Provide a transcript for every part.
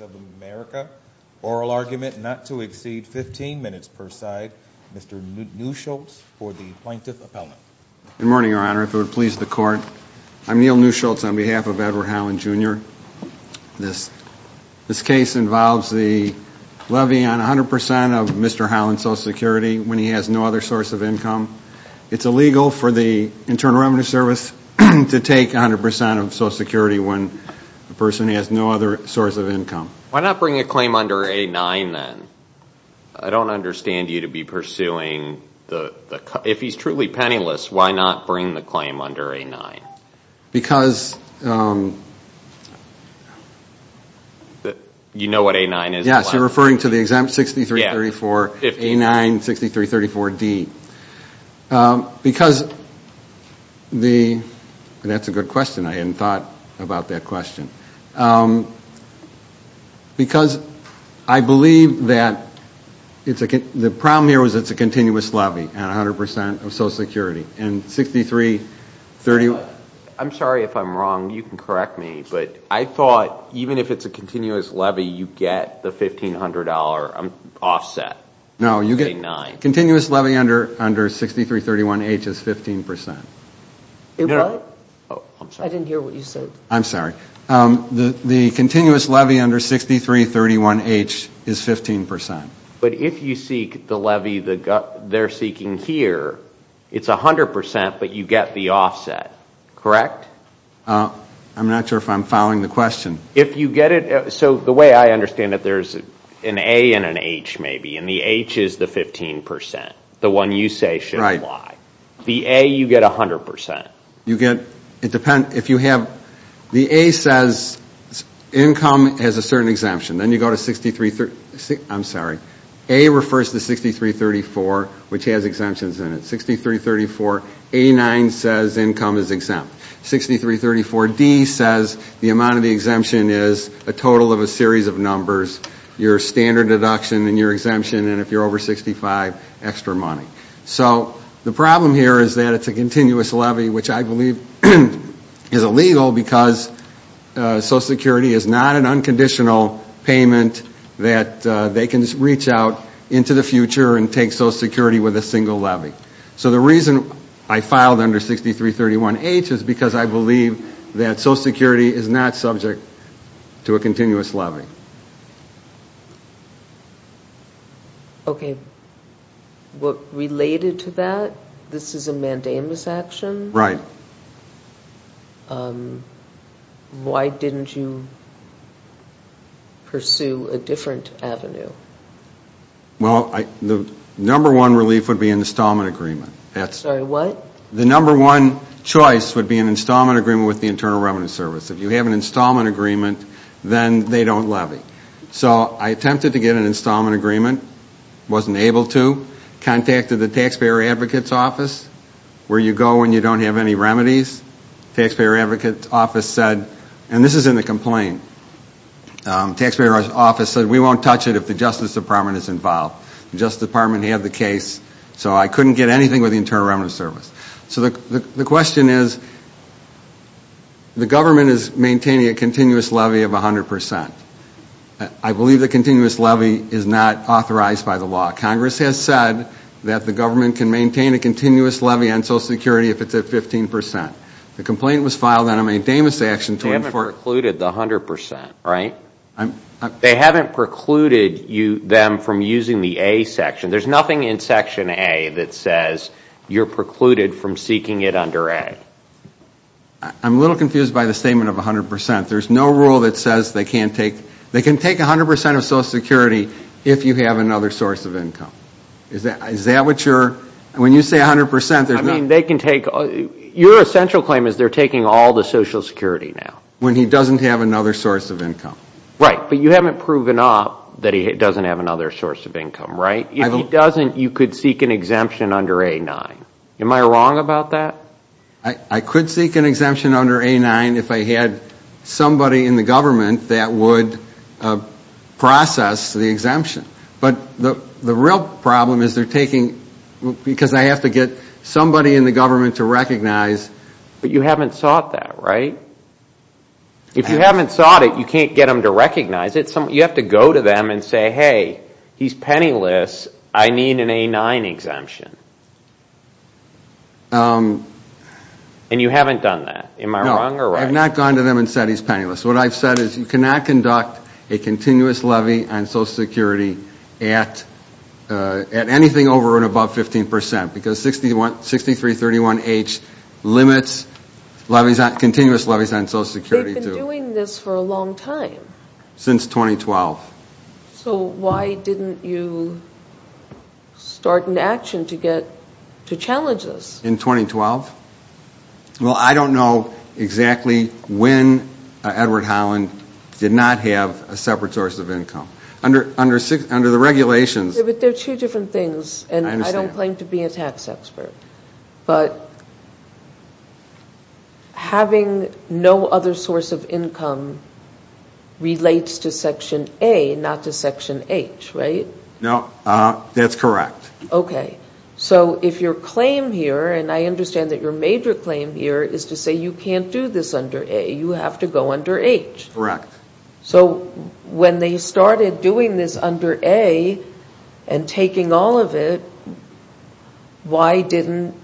of America. Oral argument not to exceed 15 minutes per side. Mr. Newsholtz for the plaintiff appellant. Good morning, Your Honor. If it would please the court, I'm Neal Newsholtz on behalf of Edward Holland Jr. This case involves the levy on 100% of Mr. Holland's Social Security when he has no other source of income. It's illegal for the Internal Revenue Service to take 100% of Social Security when a person has no other source of income. Why not bring a claim under A-9 then? I don't understand you to be pursuing, if he's truly penniless, why not bring the claim under A-9? You know what A-9 is? Yes, you're referring to the A-9-6334-D. That's a good question. I hadn't thought about that question. Because I believe that the problem here is that it's a continuous levy on 100% of Social Security. I'm sorry if I'm wrong, you can correct me, but I thought even if it's a continuous levy, you get the $1,500 offset. No, you get continuous levy under 6331-H is 15%. I didn't hear what you said. I'm sorry. The continuous levy under 6331-H is 15%. But if you seek the levy they're seeking here, it's 100% but you get the offset, correct? I'm not sure if I'm following the question. So the way I understand it, there's an A and an H maybe, and the H is the 15%, the one you say should apply. The A you get 100%. The A says income has a certain exemption. Then you go to 63, I'm sorry, A refers to 6334 which has exemptions in it. 6334-A-9 says income is exempt. 6334-D says the amount of the exemption is a total of a series of extra money. So the problem here is that it's a continuous levy which I believe is illegal because Social Security is not an unconditional payment that they can reach out into the future and take Social Security with a single levy. So the reason I filed under 6331-H is because I believe that Social Security is not subject to a continuous levy. Okay, related to that, this is a mandamus action? Right. Why didn't you pursue a different avenue? Well, the number one relief would be an installment agreement. Sorry, what? The number one choice would be an installment agreement with the Internal Revenue Service. If you have an installment agreement, then they don't levy. So I attempted to get an installment agreement, wasn't able to, contacted the Taxpayer Advocates Office, where you go when you don't have any remedies. Taxpayer Advocates Office said, and this is in the complaint, Taxpayer Advocates Office said we won't touch it if the Justice Department is involved. The Justice Department had the case, so I couldn't get anything with the is maintaining a continuous levy of 100%. I believe the continuous levy is not authorized by the law. Congress has said that the government can maintain a continuous levy on Social Security if it's at 15%. The complaint was filed on a mandamus action. They haven't precluded the 100%, right? They haven't precluded them from using the A section. There's nothing in section A that says you're precluded from seeking it under A. I'm a little confused by the statement of 100%. There's no rule that says they can't take, they can take 100% of Social Security if you have another source of income. Is that what you're, when you say 100% there's not. I mean, they can take, your essential claim is they're taking all the Social Security now. When he doesn't have another source of income. Right, but you haven't proven off that he doesn't have another source of income, right? If he doesn't, you could seek an exemption under A-9. Am I wrong about that? I could seek an exemption under A-9 if I had somebody in the government that would process the exemption. But the real problem is they're taking, because I have to get somebody in the government to recognize. But you haven't sought that, right? If you haven't sought it, you can't get them to recognize it. You have to go to them and say, hey, he's penniless, I need an A-9 exemption. And you haven't done that. Am I wrong or right? No, I've not gone to them and said he's penniless. What I've said is you cannot conduct a continuous levy on Social Security at anything over and above 15% because 6331H limits levies, continuous levies on Social Security. They've been doing this for a long time. Since 2012. So why didn't you start an action to get, to challenge this? In 2012? Well, I don't know exactly when Edward Holland did not have a separate source of income. Under the regulations... But they're two different things and I don't claim to be a tax expert. But having no other source of income relates to Section A, not to Section H, right? No, that's correct. Okay. So if your claim here, and I understand that your major claim here is to say you can't do this under A, you have to go under H. Correct. So when they started doing this under A and taking all of it, why didn't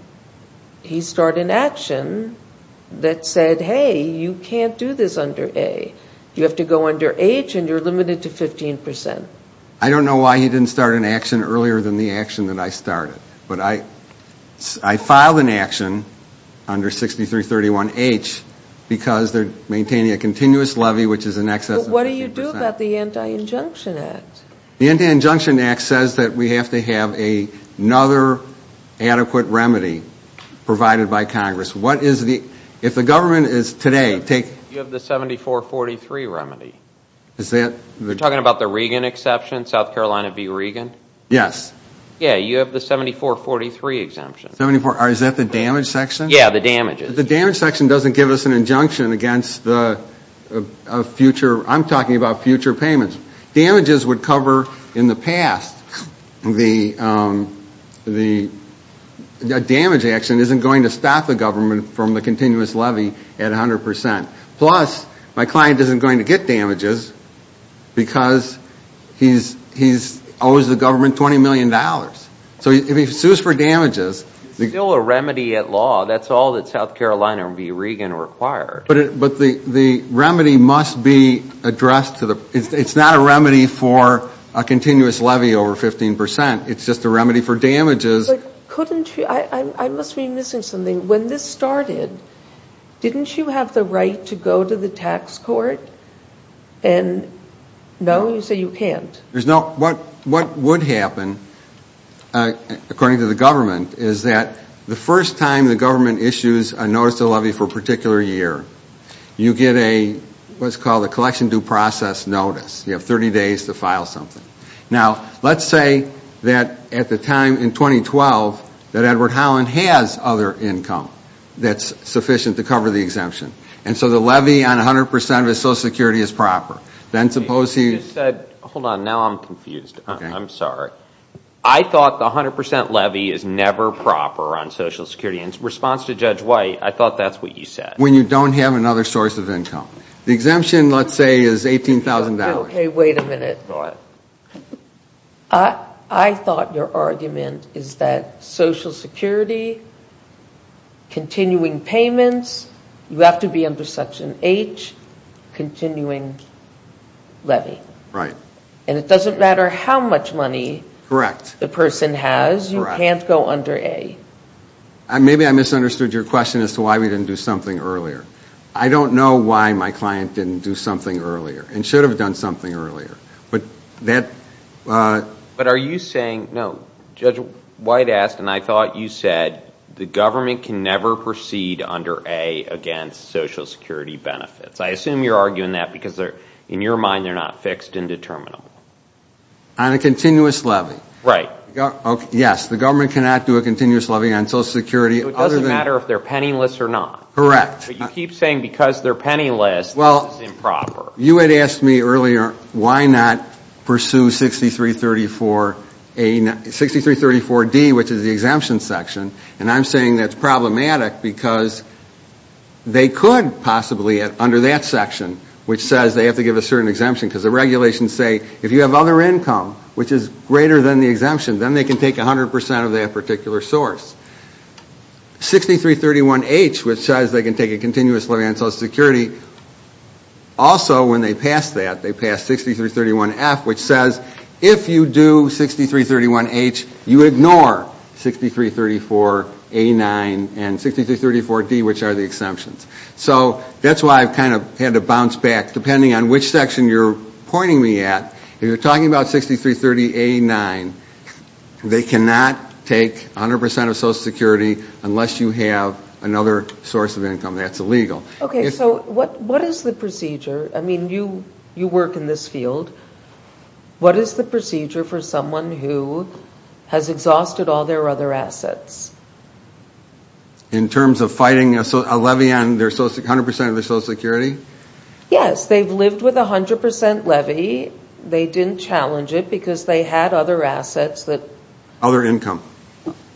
he start an action that said, hey, you can't do this under A. You have to go under H and you're limited to 15%. I don't know why he didn't start an action earlier than the action that I started. But I filed an action under 6331H because they're maintaining a continuous levy which is in excess of 15%. But what do you do about the Anti-Injunction Act? The Anti-Injunction Act says that we have to have another adequate remedy provided by Congress. What is the, if the government is today, take... South Carolina v. Regan? Yes. Yeah, you have the 7443 exemption. 74, is that the damage section? Yeah, the damages. The damage section doesn't give us an injunction against the future, I'm talking about future payments. Damages would cover in the past, the damage action isn't going to stop the government from the continuous levy at 100%. Plus, my client isn't going to get damages because he owes the government $20 million. So if he sues for damages... It's still a remedy at law, that's all that South Carolina v. Regan required. But the remedy must be addressed to the, it's not a remedy for a continuous levy over 15%, it's just a remedy for damages. But couldn't you, I must be missing something. When this started, didn't you have the right to go to the tax court? And no, you say you can't. What would happen, according to the government, is that the first time the government issues a notice of levy for a particular year, you get a, what's called a collection due process notice. You have 30 days to file something. Now, let's say that at the time in 2012, that is sufficient to cover the exemption. And so the levy on 100% of his Social Security is proper. Then suppose he... Hold on, now I'm confused. I'm sorry. I thought the 100% levy is never proper on Social Security. In response to Judge White, I thought that's what you said. When you don't have another source of income. The exemption, let's say, is $18,000. Wait a minute. I thought your argument is that Social Security, continuing to cover payments, you have to be under Section H, continuing levy. And it doesn't matter how much money the person has, you can't go under A. Maybe I misunderstood your question as to why we didn't do something earlier. I don't know why my client didn't do something earlier, and should have done something earlier. But are you saying, no, Judge White asked, and I thought you said, the government can never proceed under A against Social Security benefits. I assume you're arguing that because in your mind they're not fixed and determinable. On a continuous levy. Right. Yes, the government cannot do a continuous levy on Social Security other than... So it doesn't matter if they're penniless or not. Correct. But you keep saying because they're penniless, it's improper. You had asked me earlier, why not pursue 6334D, which is the exemption section, and I'm saying that's problematic because they could possibly, under that section, which says they have to give a certain exemption, because the regulations say, if you have other income, which is greater than the exemption, then they can take 100% of that particular source. 6331H, which says they can take a continuous levy on Social Security, also when they pass that, they pass 6331F, which says, if you do 6331H, you ignore 6334A9. And 6334D, which are the exemptions. So that's why I've kind of had to bounce back. Depending on which section you're pointing me at, if you're talking about 6330A9, they cannot take 100% of Social Security unless you have another source of income. That's illegal. Okay, so what is the procedure? I mean, you work in this field. What is the procedure for someone who has exhausted all their other assets? In terms of fighting a levy on 100% of their Social Security? Yes, they've lived with a 100% levy. They didn't challenge it because they had other assets that... Other income.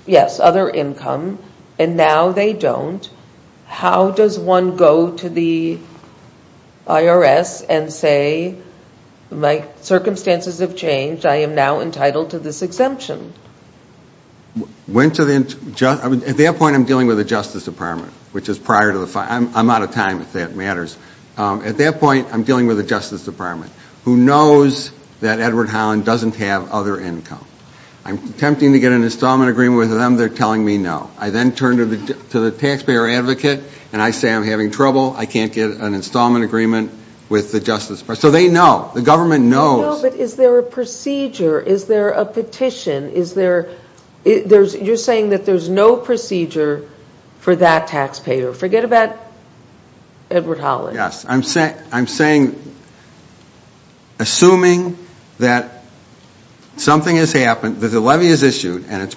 Yes, other income. And now they don't. How does one go to the IRS and say, my circumstances have changed, I am now entitled to this exemption? At that point, I'm dealing with the Justice Department, which is prior to the... I'm out of time, if that matters. At that point, I'm dealing with the Justice Department, who knows that Edward Holland doesn't have other income. I'm attempting to get an installment agreement with them, they're telling me no. I then turn to the taxpayer advocate, and I say I'm having trouble, I can't get an installment agreement with the Justice Department. So they know, the government knows. No, but is there a procedure? Is there a petition? Is there... You're saying that there's no procedure for that taxpayer. Forget about Edward Holland. Yes, I'm saying, assuming that something has happened, that the levy is issued, and it's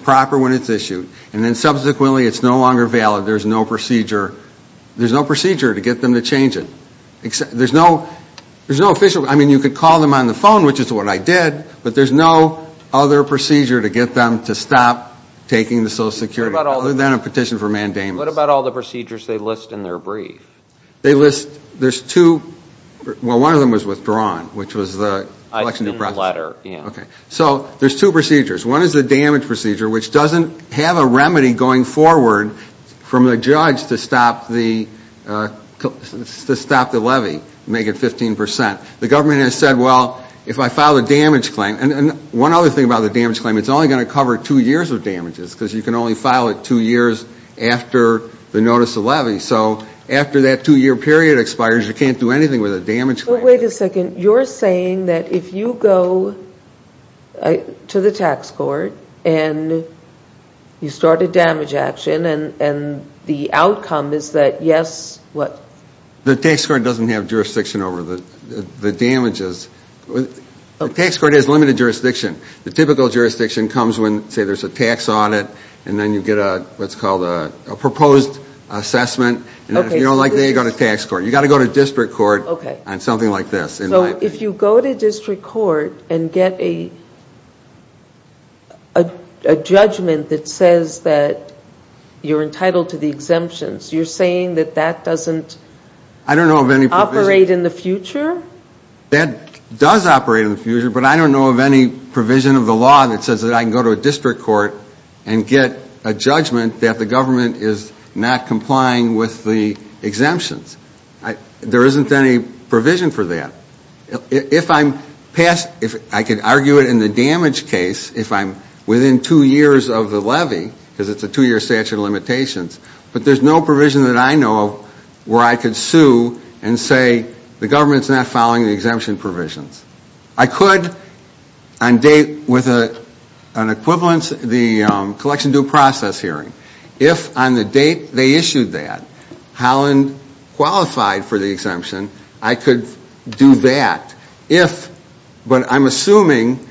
no longer valid, there's no procedure to get them to change it. There's no official, I mean, you could call them on the phone, which is what I did, but there's no other procedure to get them to stop taking the Social Security, other than a petition for mandamus. What about all the procedures they list in their brief? They list, there's two, well, one of them was withdrawn, which was the election process. So there's two procedures. One is the damage procedure, which doesn't have a remedy going forward from the judge to stop the levy, make it 15%. The government has said, well, if I file a damage claim, and one other thing about the damage claim, it's only going to cover two years of damages, because you can only file it two years after the notice of levy. So after that two-year period expires, you can't do anything with a damage claim. So wait a second, you're saying that if you go to the tax court, and you start a damage action, and the outcome is that yes, what? The tax court doesn't have jurisdiction over the damages, the tax court has limited jurisdiction. The typical jurisdiction comes when, say there's a tax audit, and then you get a, what's called a proposed assessment, and if you don't like that, you go to tax court. You've got to go to district court on something like this, in my opinion. So if you go to district court and get a judgment that says that you're entitled to the exemptions, you're saying that that doesn't operate in the future? That does operate in the future, but I don't know of any provision of the law that says that I can go to a district court and get a judgment that the government is not complying with the exemptions. There isn't any provision for that. If I'm past, if I could argue it in the damage case, if I'm within two years of the levy, because it's a two-year statute of limitations, but there's no provision that I know of where I could sue and say the government's not following the exemption provisions. I could on date with an equivalence, the collection due process hearing. If on the date they issued that, Holland qualified for the exemption, I could do that. But I'm assuming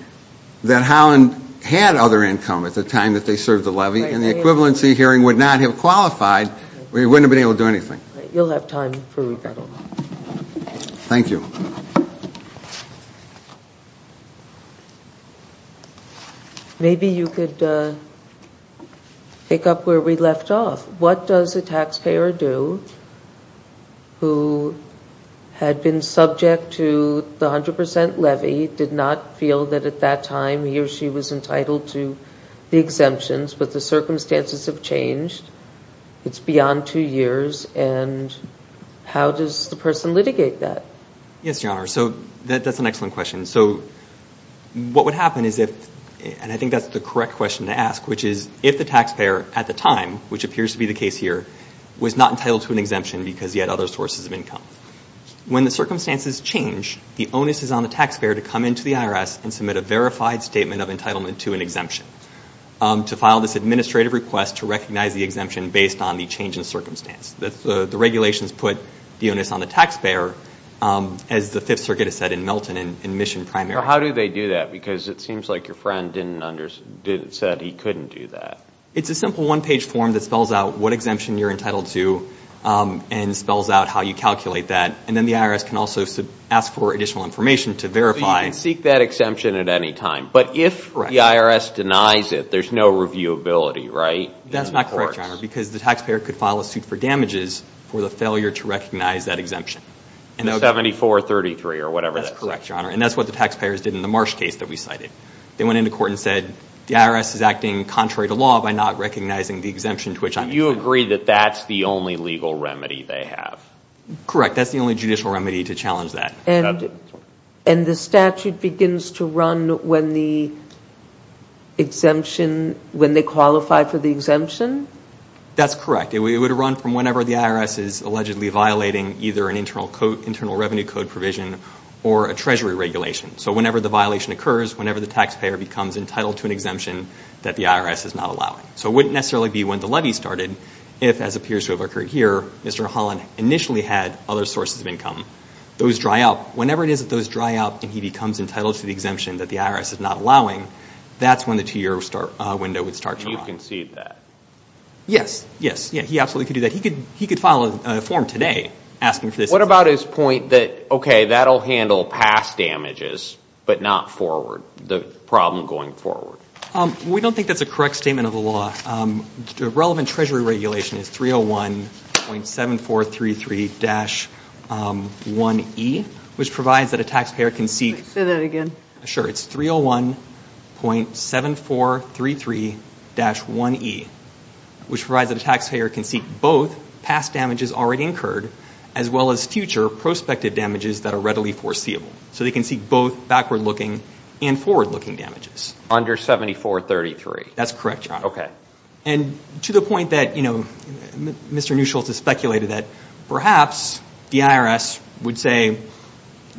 that Holland had other income at the time that they served the levy, and the equivalency hearing would not have qualified, we wouldn't have been able to do anything. You'll have time for rebuttal. Thank you. Maybe you could pick up where we left off. What does a taxpayer do who had been subject to the 100 percent levy, did not feel that at that time he or she was entitled to the exemptions, but the circumstances have changed, it's beyond two years, and how does the person litigate that? Yes, Your Honor, that's an excellent question. What would happen, and I think that's the correct question to ask, which is if the taxpayer at the time, which appears to be the case here, was not entitled to an exemption because he had other sources of income. When the circumstances change, the onus is on the taxpayer to come into the IRS and submit a verified statement of entitlement to an exemption, to file this administrative request to recognize the exemption based on the change in circumstance. The regulations put the onus on the taxpayer, as the Fifth Circuit has said in Milton in Mission Primary. How do they do that? Because it seems like your friend said he couldn't do that. It's a simple one-page form that spells out what exemption you're entitled to and spells out how you calculate that, and then the IRS can also ask for additional information to verify. So you can seek that exemption at any time, but if the IRS denies it, there's no reviewability, right? That's not correct, Your Honor, because the taxpayer could file a suit for damages for the failure to recognize that exemption. 7433 or whatever that is. That's correct, Your Honor, and that's what the taxpayers did in the Marsh case that we cited. They went into court and said the IRS is acting contrary to law by not recognizing the exemption to which I'm entitled. Do you agree that that's the only legal remedy they have? Correct. That's the only judicial remedy to challenge that. And the statute begins to run when the exemption, when they qualify for the exemption? That's correct. It would run from whenever the IRS is allegedly violating either an internal revenue code provision or a treasury regulation. So whenever the violation occurs, whenever the taxpayer becomes entitled to an exemption that the IRS is not allowing. So it wouldn't necessarily be when the levy started if, as appears to have occurred here, Mr. Holland initially had other sources of income. Those dry up. Whenever it is that those dry up and he becomes entitled to the exemption that the IRS is not allowing, that's when the two-year window would start to run. You concede that? Yes. Yes. Yeah, he absolutely could do that. He could file a form today asking for this exemption. What about his point that, okay, that'll handle past damages but not forward, the problem going forward? We don't think that's a correct statement of the law. The relevant treasury regulation is 301.7433-1E, which provides that a taxpayer can seek... Say that again. Sure. It's 301.7433-1E, which provides that a taxpayer can seek both past damages already incurred as well as future prospective damages that are readily foreseeable. So they can seek both backward-looking and forward-looking damages. Under 7433. That's correct, John. And to the point that, you know, Mr. Newsholtz has speculated that perhaps the IRS would say that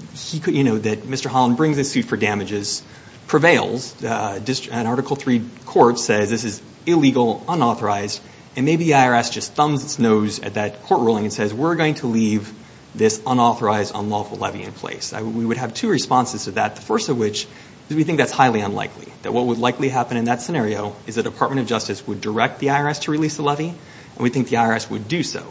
Mr. Holland brings a suit for damages, prevails, and Article III court says this is illegal, unauthorized, and maybe the IRS just thumbs its nose at that court ruling and says we're going to leave this unauthorized, unlawful levy in place. We would have two responses to that, the first of which is we think that's highly unlikely, that what would likely happen in that scenario is the Department of Justice would direct the IRS to release the levy, and we think the IRS would do so.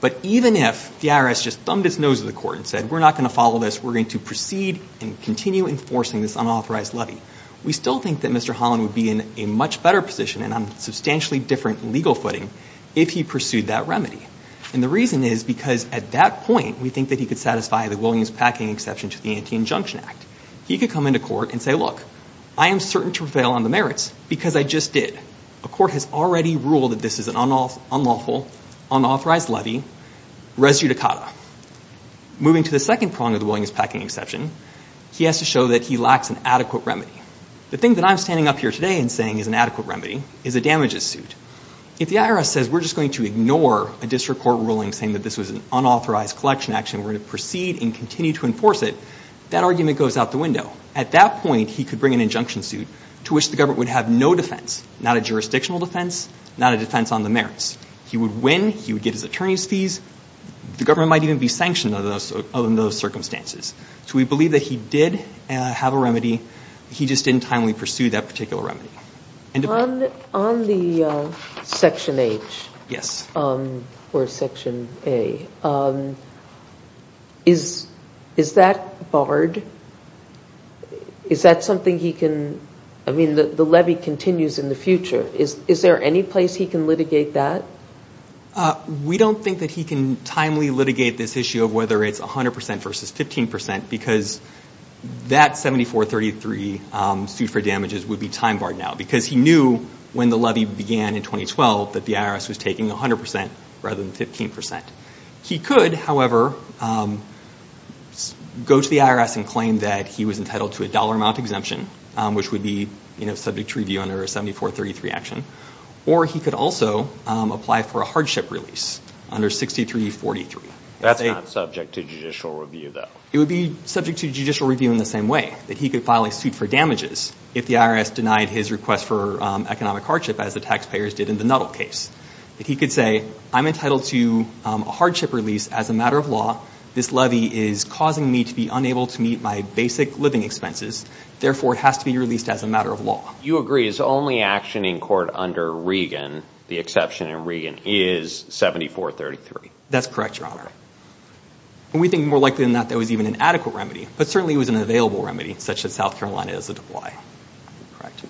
But even if the IRS just thumbed its nose at the court and said we're not going to follow this, we're going to proceed and continue enforcing this unauthorized levy, we still think that Mr. Holland would be in a much better position and on a substantially different legal footing if he pursued that remedy. And the reason is because at that point, we think that he could satisfy the Williams-Packing exception to the Anti-Injunction Act. He could come into court and say, look, I am certain to prevail on the merits because I just did. A court has already ruled that this is an unlawful, unauthorized levy res judicata. Moving to the second prong of the Williams-Packing exception, he has to show that he lacks an adequate remedy. The thing that I'm standing up here today and saying is an adequate remedy is a damages suit. If the IRS says we're just going to ignore a district court ruling saying that this was an unauthorized collection action, we're going to proceed and continue to enforce it, that argument goes out the window. At that point, he could bring an injunction suit to which the government would have no defense, not a jurisdictional defense, not a defense on the merits. He would win. He would get his attorney's fees. The government might even be sanctioned under those circumstances. So we believe that he did have a remedy. He just didn't timely pursue that particular remedy. On the Section H or Section A, is that barred? Is that something he can, I mean, the levy continues in the future. Is there any place he can litigate that? We don't think that he can timely litigate this issue of whether it's 100% versus 15% because that 7433 suit for damages would be time barred now because he knew when the levy began in 2012 that the IRS was taking 100% rather than 15%. He could, however, go to the IRS and claim that he was entitled to a dollar amount exemption, which would be subject to review under a 7433 action. Or he could also apply for a hardship release under 6343. That's not subject to judicial review, though. It would be subject to judicial review in the same way, that he could file a suit for damages if the IRS denied his request for economic hardship as the taxpayers did in the Nuttall case. That he could say, I'm entitled to a hardship release as a matter of law. This levy is causing me to be unable to meet my basic living expenses. Therefore, it has to be released as a matter of law. You agree his only action in court under Regan, the exception in Regan, is 7433. That's correct, Your Honor. We think more likely than not that it was even an adequate remedy, but certainly it was an available remedy, such as South Carolina as a double I. Correct.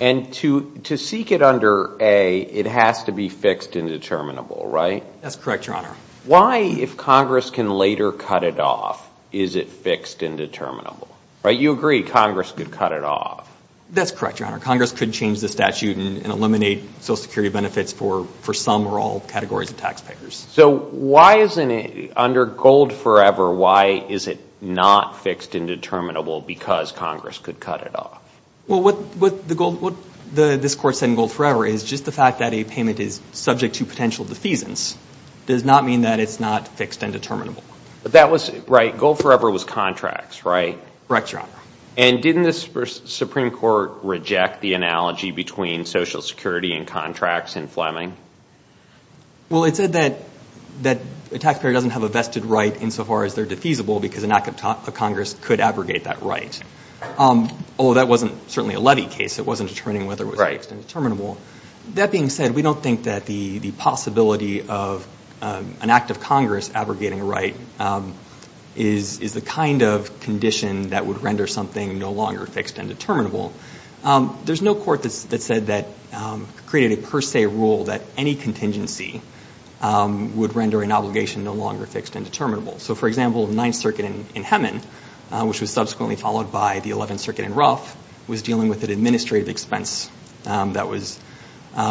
And to seek it under A, it has to be fixed and determinable, right? That's correct, Your Honor. Why, if Congress can later cut it off, is it fixed and determinable? You agree Congress could cut it off. That's correct, Your Honor. So why isn't it, under Gold Forever, why is it not fixed and determinable because Congress could cut it off? Well, what this Court said in Gold Forever is just the fact that a payment is subject to potential defeasance does not mean that it's not fixed and determinable. But that was, right, Gold Forever was contracts, right? Correct, Your Honor. And didn't the Supreme Court reject the analogy between Social Security and contracts in Fleming? Well, it said that a taxpayer doesn't have a vested right insofar as they're defeasible because an act of Congress could abrogate that right. Although that wasn't certainly a levy case, it wasn't determining whether it was fixed and determinable. That being said, we don't think that the possibility of an act of Congress abrogating a right is the kind of condition that would render something no longer fixed and determinable. There's no court that said that, created a per se rule that any contingency would render an obligation no longer fixed and determinable. So, for example, the Ninth Circuit in Hemin, which was subsequently followed by the Eleventh Circuit in Ruff, was dealing with an administrative expense that was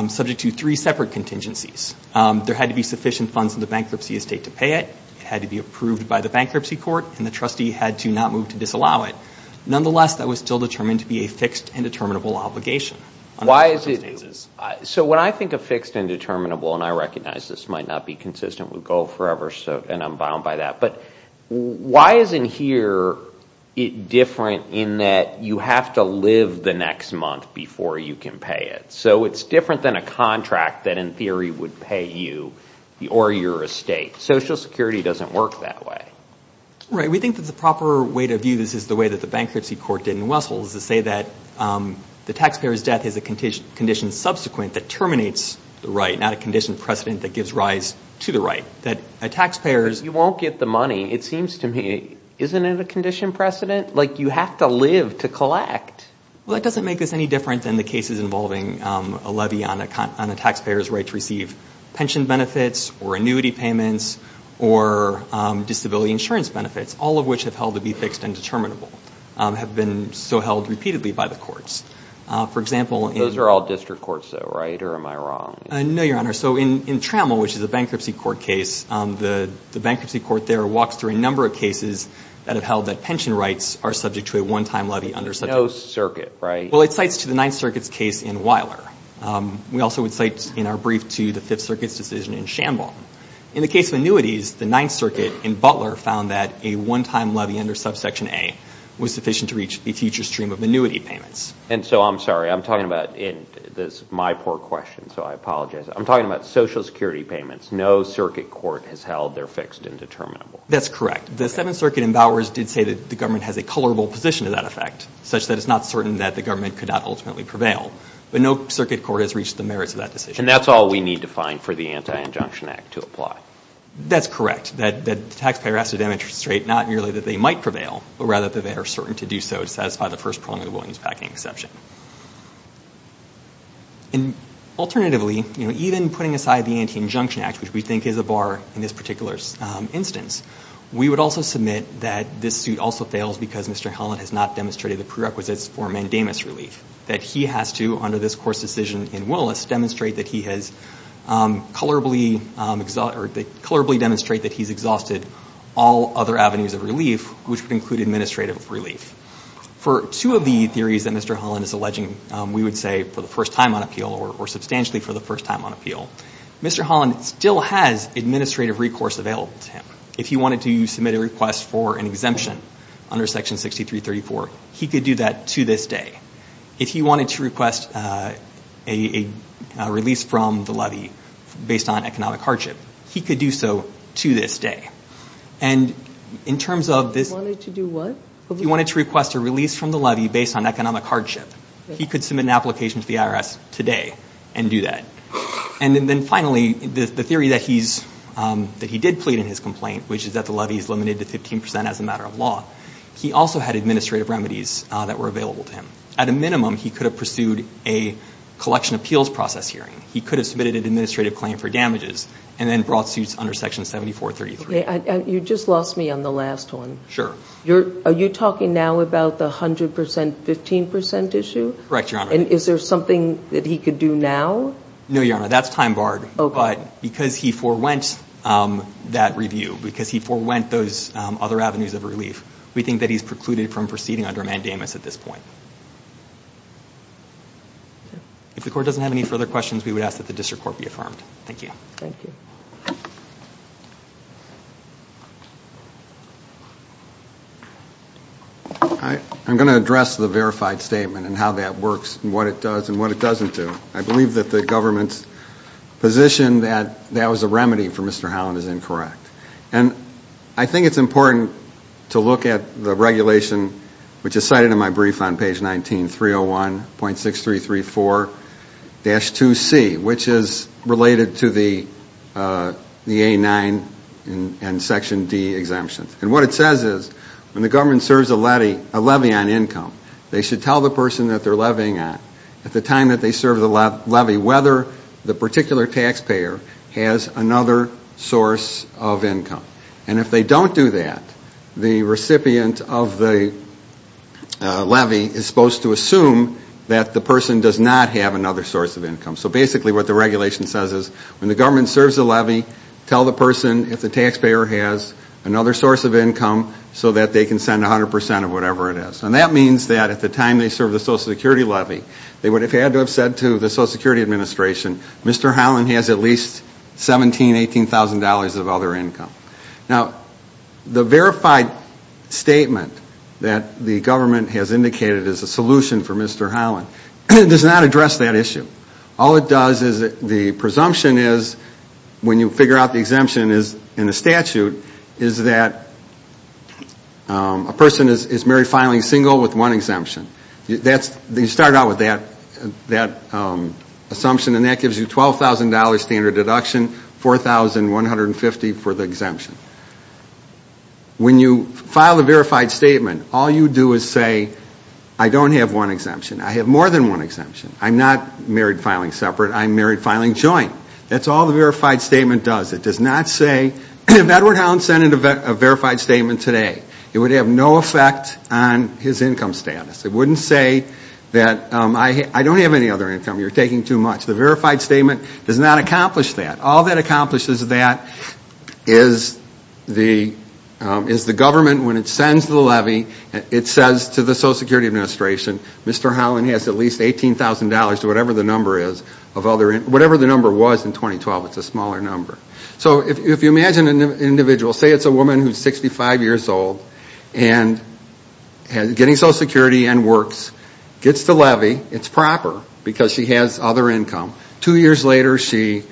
subject to three separate contingencies. There had to be sufficient funds in the bankruptcy estate to pay it, it had to be approved by the bankruptcy court, and the trustee had to not move to disallow it. Nonetheless, that was still determined to be a fixed and determinable obligation. So when I think of fixed and determinable, and I recognize this might not be consistent with Goal Forever and I'm bound by that, but why isn't here different in that you have to live the next month before you can pay it? So it's different than a contract that in theory would pay you or your estate. Social Security doesn't work that way. Right, we think that the proper way to view this is the way that the bankruptcy court did in Westville is to say that the taxpayer's death is a condition subsequent that terminates the right, not a condition precedent that gives rise to the right. That a taxpayer's... You won't get the money, it seems to me. Isn't it a condition precedent? Like, you have to live to collect. Well, that doesn't make this any different than the cases involving a levy on a taxpayer's right to receive pension benefits or annuity payments or disability insurance benefits, all of which have held to be fixed and determinable, have been so held repeatedly by the courts. For example... Those are all district courts, though, right? Or am I wrong? No, Your Honor. So in Trammell, which is a bankruptcy court case, the bankruptcy court there walks through a number of cases that have held that pension rights are subject to a one-time levy under subject... Well, it cites to the Ninth Circuit's case in Wyler. We also would cite in our brief to the Fifth Circuit's decision in Shambhala. In the case of annuities, the Ninth Circuit in Butler found that a one-time levy under subsection A was sufficient to reach a future stream of annuity payments. And so I'm sorry, I'm talking about... This is my poor question, so I apologize. I'm talking about Social Security payments. No circuit court has held they're fixed and determinable. That's correct. The Seventh Circuit in Bowers did say that the government has a colorable position to that effect, such that it's not certain that the government could not ultimately prevail. But no circuit court has reached the merits of that decision. And that's all we need to find for the Anti-Injunction Act to apply. That's correct. That the taxpayer has to demonstrate not merely that they might prevail, but rather that they are certain to do so to satisfy the First Preliminary Williams Packing Exception. And alternatively, even putting aside the Anti-Injunction Act, which we think is a bar in this particular instance, we would also submit that this suit also fails because Mr. Holland has not demonstrated the prerequisites for mandamus relief. That he has to, under this court's decision in Willis, demonstrate that he has colorably, or colorably demonstrate that he's exhausted all other avenues of relief, which would include administrative relief. For two of the theories that Mr. Holland is alleging, we would say for the first time on appeal, or substantially for the first time on appeal, Mr. Holland still has administrative recourse available to him. If he wanted to submit a request for an exemption under Section 6334, he could do that to this day. If he wanted to request a release from the levy based on economic hardship, he could do so to this day. And in terms of this... He wanted to do what? He wanted to request a release from the levy based on economic hardship. He could submit an application to the IRS today and do that. And then finally, the theory that he did plead in his complaint, which is that the levy is limited to 15% as a matter of law, he also had administrative remedies that were available to him. At a minimum, he could have pursued a collection appeals process hearing. He could have submitted an administrative claim for damages and then brought suits under Section 7433. You just lost me on the last one. Sure. Are you talking now about the 100%, 15% issue? Correct, Your Honor. And is there something that he could do now? No, Your Honor, that's time barred. But because he forwent that review, because he forwent those other avenues of relief, we think that he's precluded from proceeding under mandamus at this point. If the Court doesn't have any further questions, we would ask that the District Court be affirmed. Thank you. Thank you. I'm going to address the verified statement and how that works and what it does and what it doesn't do. I believe that the government's position that that was a remedy for Mr. Holland is incorrect. And I think it's important to look at the regulation which is cited in my brief on page 19, 301.6334-2C, which is related to the A9 and Section D exemptions. And what it says is when the government serves a levy on income, they should tell the person that they're levying on at the time that they serve the levy whether the particular taxpayer has another source of income. And if they don't do that, the recipient of the levy is supposed to assume that the person does not have another source of income. So basically what the regulation says is when the government serves a levy, tell the person if the taxpayer has another source of income so that they can send 100% of whatever it is. And that means that at the time they serve the Social Security levy, they would have had to have said to the Social Security Administration Mr. Holland has at least $17,000, $18,000 of other income. Now, the verified statement that the government has indicated as a solution for Mr. Holland does not address that issue. All it does is the presumption is when you figure out the exemption in the statute is that a person is married, finally single with one exemption. You start out with that assumption and that gives you $12,000 standard deduction, $4,150 for the exemption. When you file the verified statement, all you do is say I don't have one exemption. I have more than one exemption. I'm not married filing separate. I'm married filing joint. That's all the verified statement does. It does not say, if Edward Holland sent in a verified statement today, it would have no effect on his income status. It wouldn't say that I don't have any other income. You're taking too much. The verified statement does not accomplish that. All that accomplishes that is the government, when it sends the levy, it says to the Social Security Administration Mr. Holland has at least $18,000 to whatever the number is, whatever the number was in 2012. It's a smaller number. So if you imagine an individual, say it's a woman who's 65 years old and getting Social Security and works, gets the levy, it's proper because she has other income. Two years later, she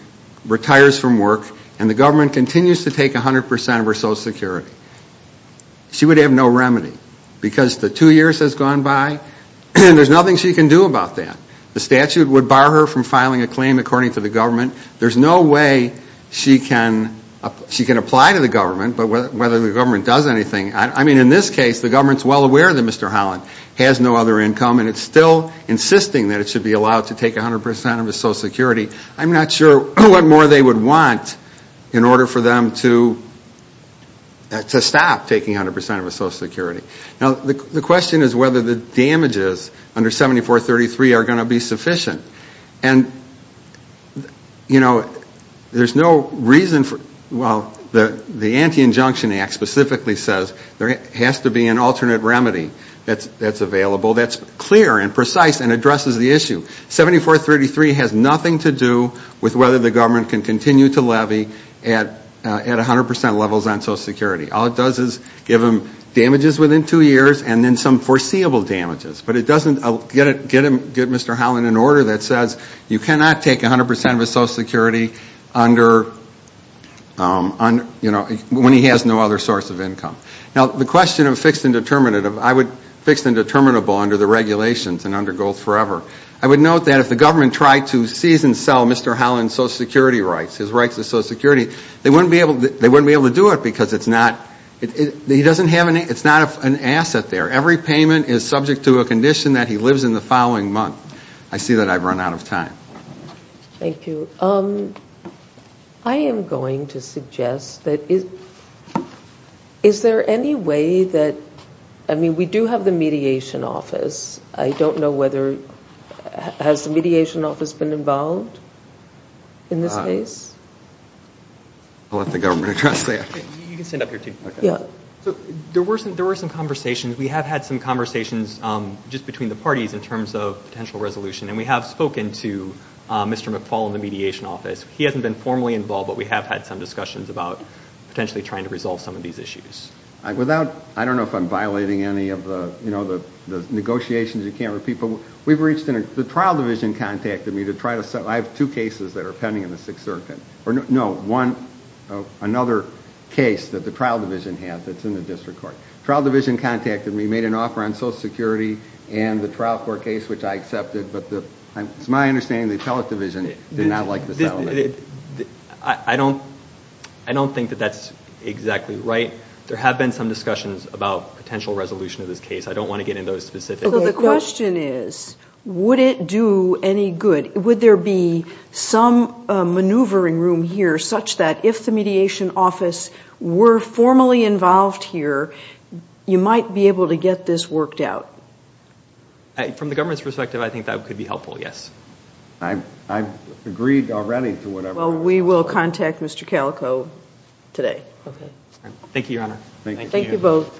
retires from work and the government continues to take 100% of her Social Security. She would have no remedy because the two years has gone by and there's nothing she can do about that. The statute would bar her from filing a claim according to the government. There's no way she can apply to the government, but whether the government does anything, I mean, in this case, the government's well aware that Mr. Holland has no other income and it's still insisting that it should be allowed to take 100% of his Social Security. I'm not sure what more they would want in order for them to stop taking 100% of his Social Security. Now, the question is whether the damages under 7433 are going to be sufficient. And, you know, there's no reason for, well, the Anti-Injunction Act specifically says there has to be an alternate remedy that's available that's clear and precise and addresses the issue. 7433 has nothing to do with whether the government can continue to levy at 100% levels on Social Security. All it does is give him damages within two years and then some foreseeable damages. But it doesn't get Mr. Holland an order that says you cannot take 100% of his Social Security under, you know, when he has no other source of income. Now, the question of fixed and determinative, I would fix the determinable under the regulations and under Gold Forever. I would note that if the government tried to seize and sell Mr. Holland's Social Security rights, his rights to Social Security, they wouldn't be able to do it because it's not, he doesn't have any, it's not an asset there. Every payment is subject to a condition that he lives in the following month. I see that I've run out of time. Thank you. I am going to suggest that is, is there any way that, I mean, we do have the Mediation Office. I don't know whether, has the Mediation Office been involved in this case? I'll let the government address that. You can stand up here too. Yeah. So, there were some, there were some conversations. We have had some conversations just between the parties in terms of potential resolution and we have spoken to Mr. McFaul in the Mediation Office. He hasn't been formally involved but we have had some discussions about potentially trying to resolve some of these issues. Without, I don't know if I'm violating any of the, you know, the negotiations you can't repeat, but we've reached in a, the Trial Division contacted me to try to, I have two cases that are pending in the Sixth Circuit, or no, one, another case that the Trial Division had that's in the Sixth Circuit and from my understanding the Appellate Division did not like the settlement. I don't, I don't think that that's exactly right. There have been some discussions about potential resolution of this case. I don't want to get into those specifics. So, the question is would it do any good? Would there be some maneuvering room here such that if the Mediation Office were formally involved here you might be able to get this worked out? From the government's perspective, I think that could be helpful, yes. I've agreed already to whatever. Well, we will contact Mr. Calico today. Okay. Thank you, Your Honor. Thank you. Thank you both. The case will be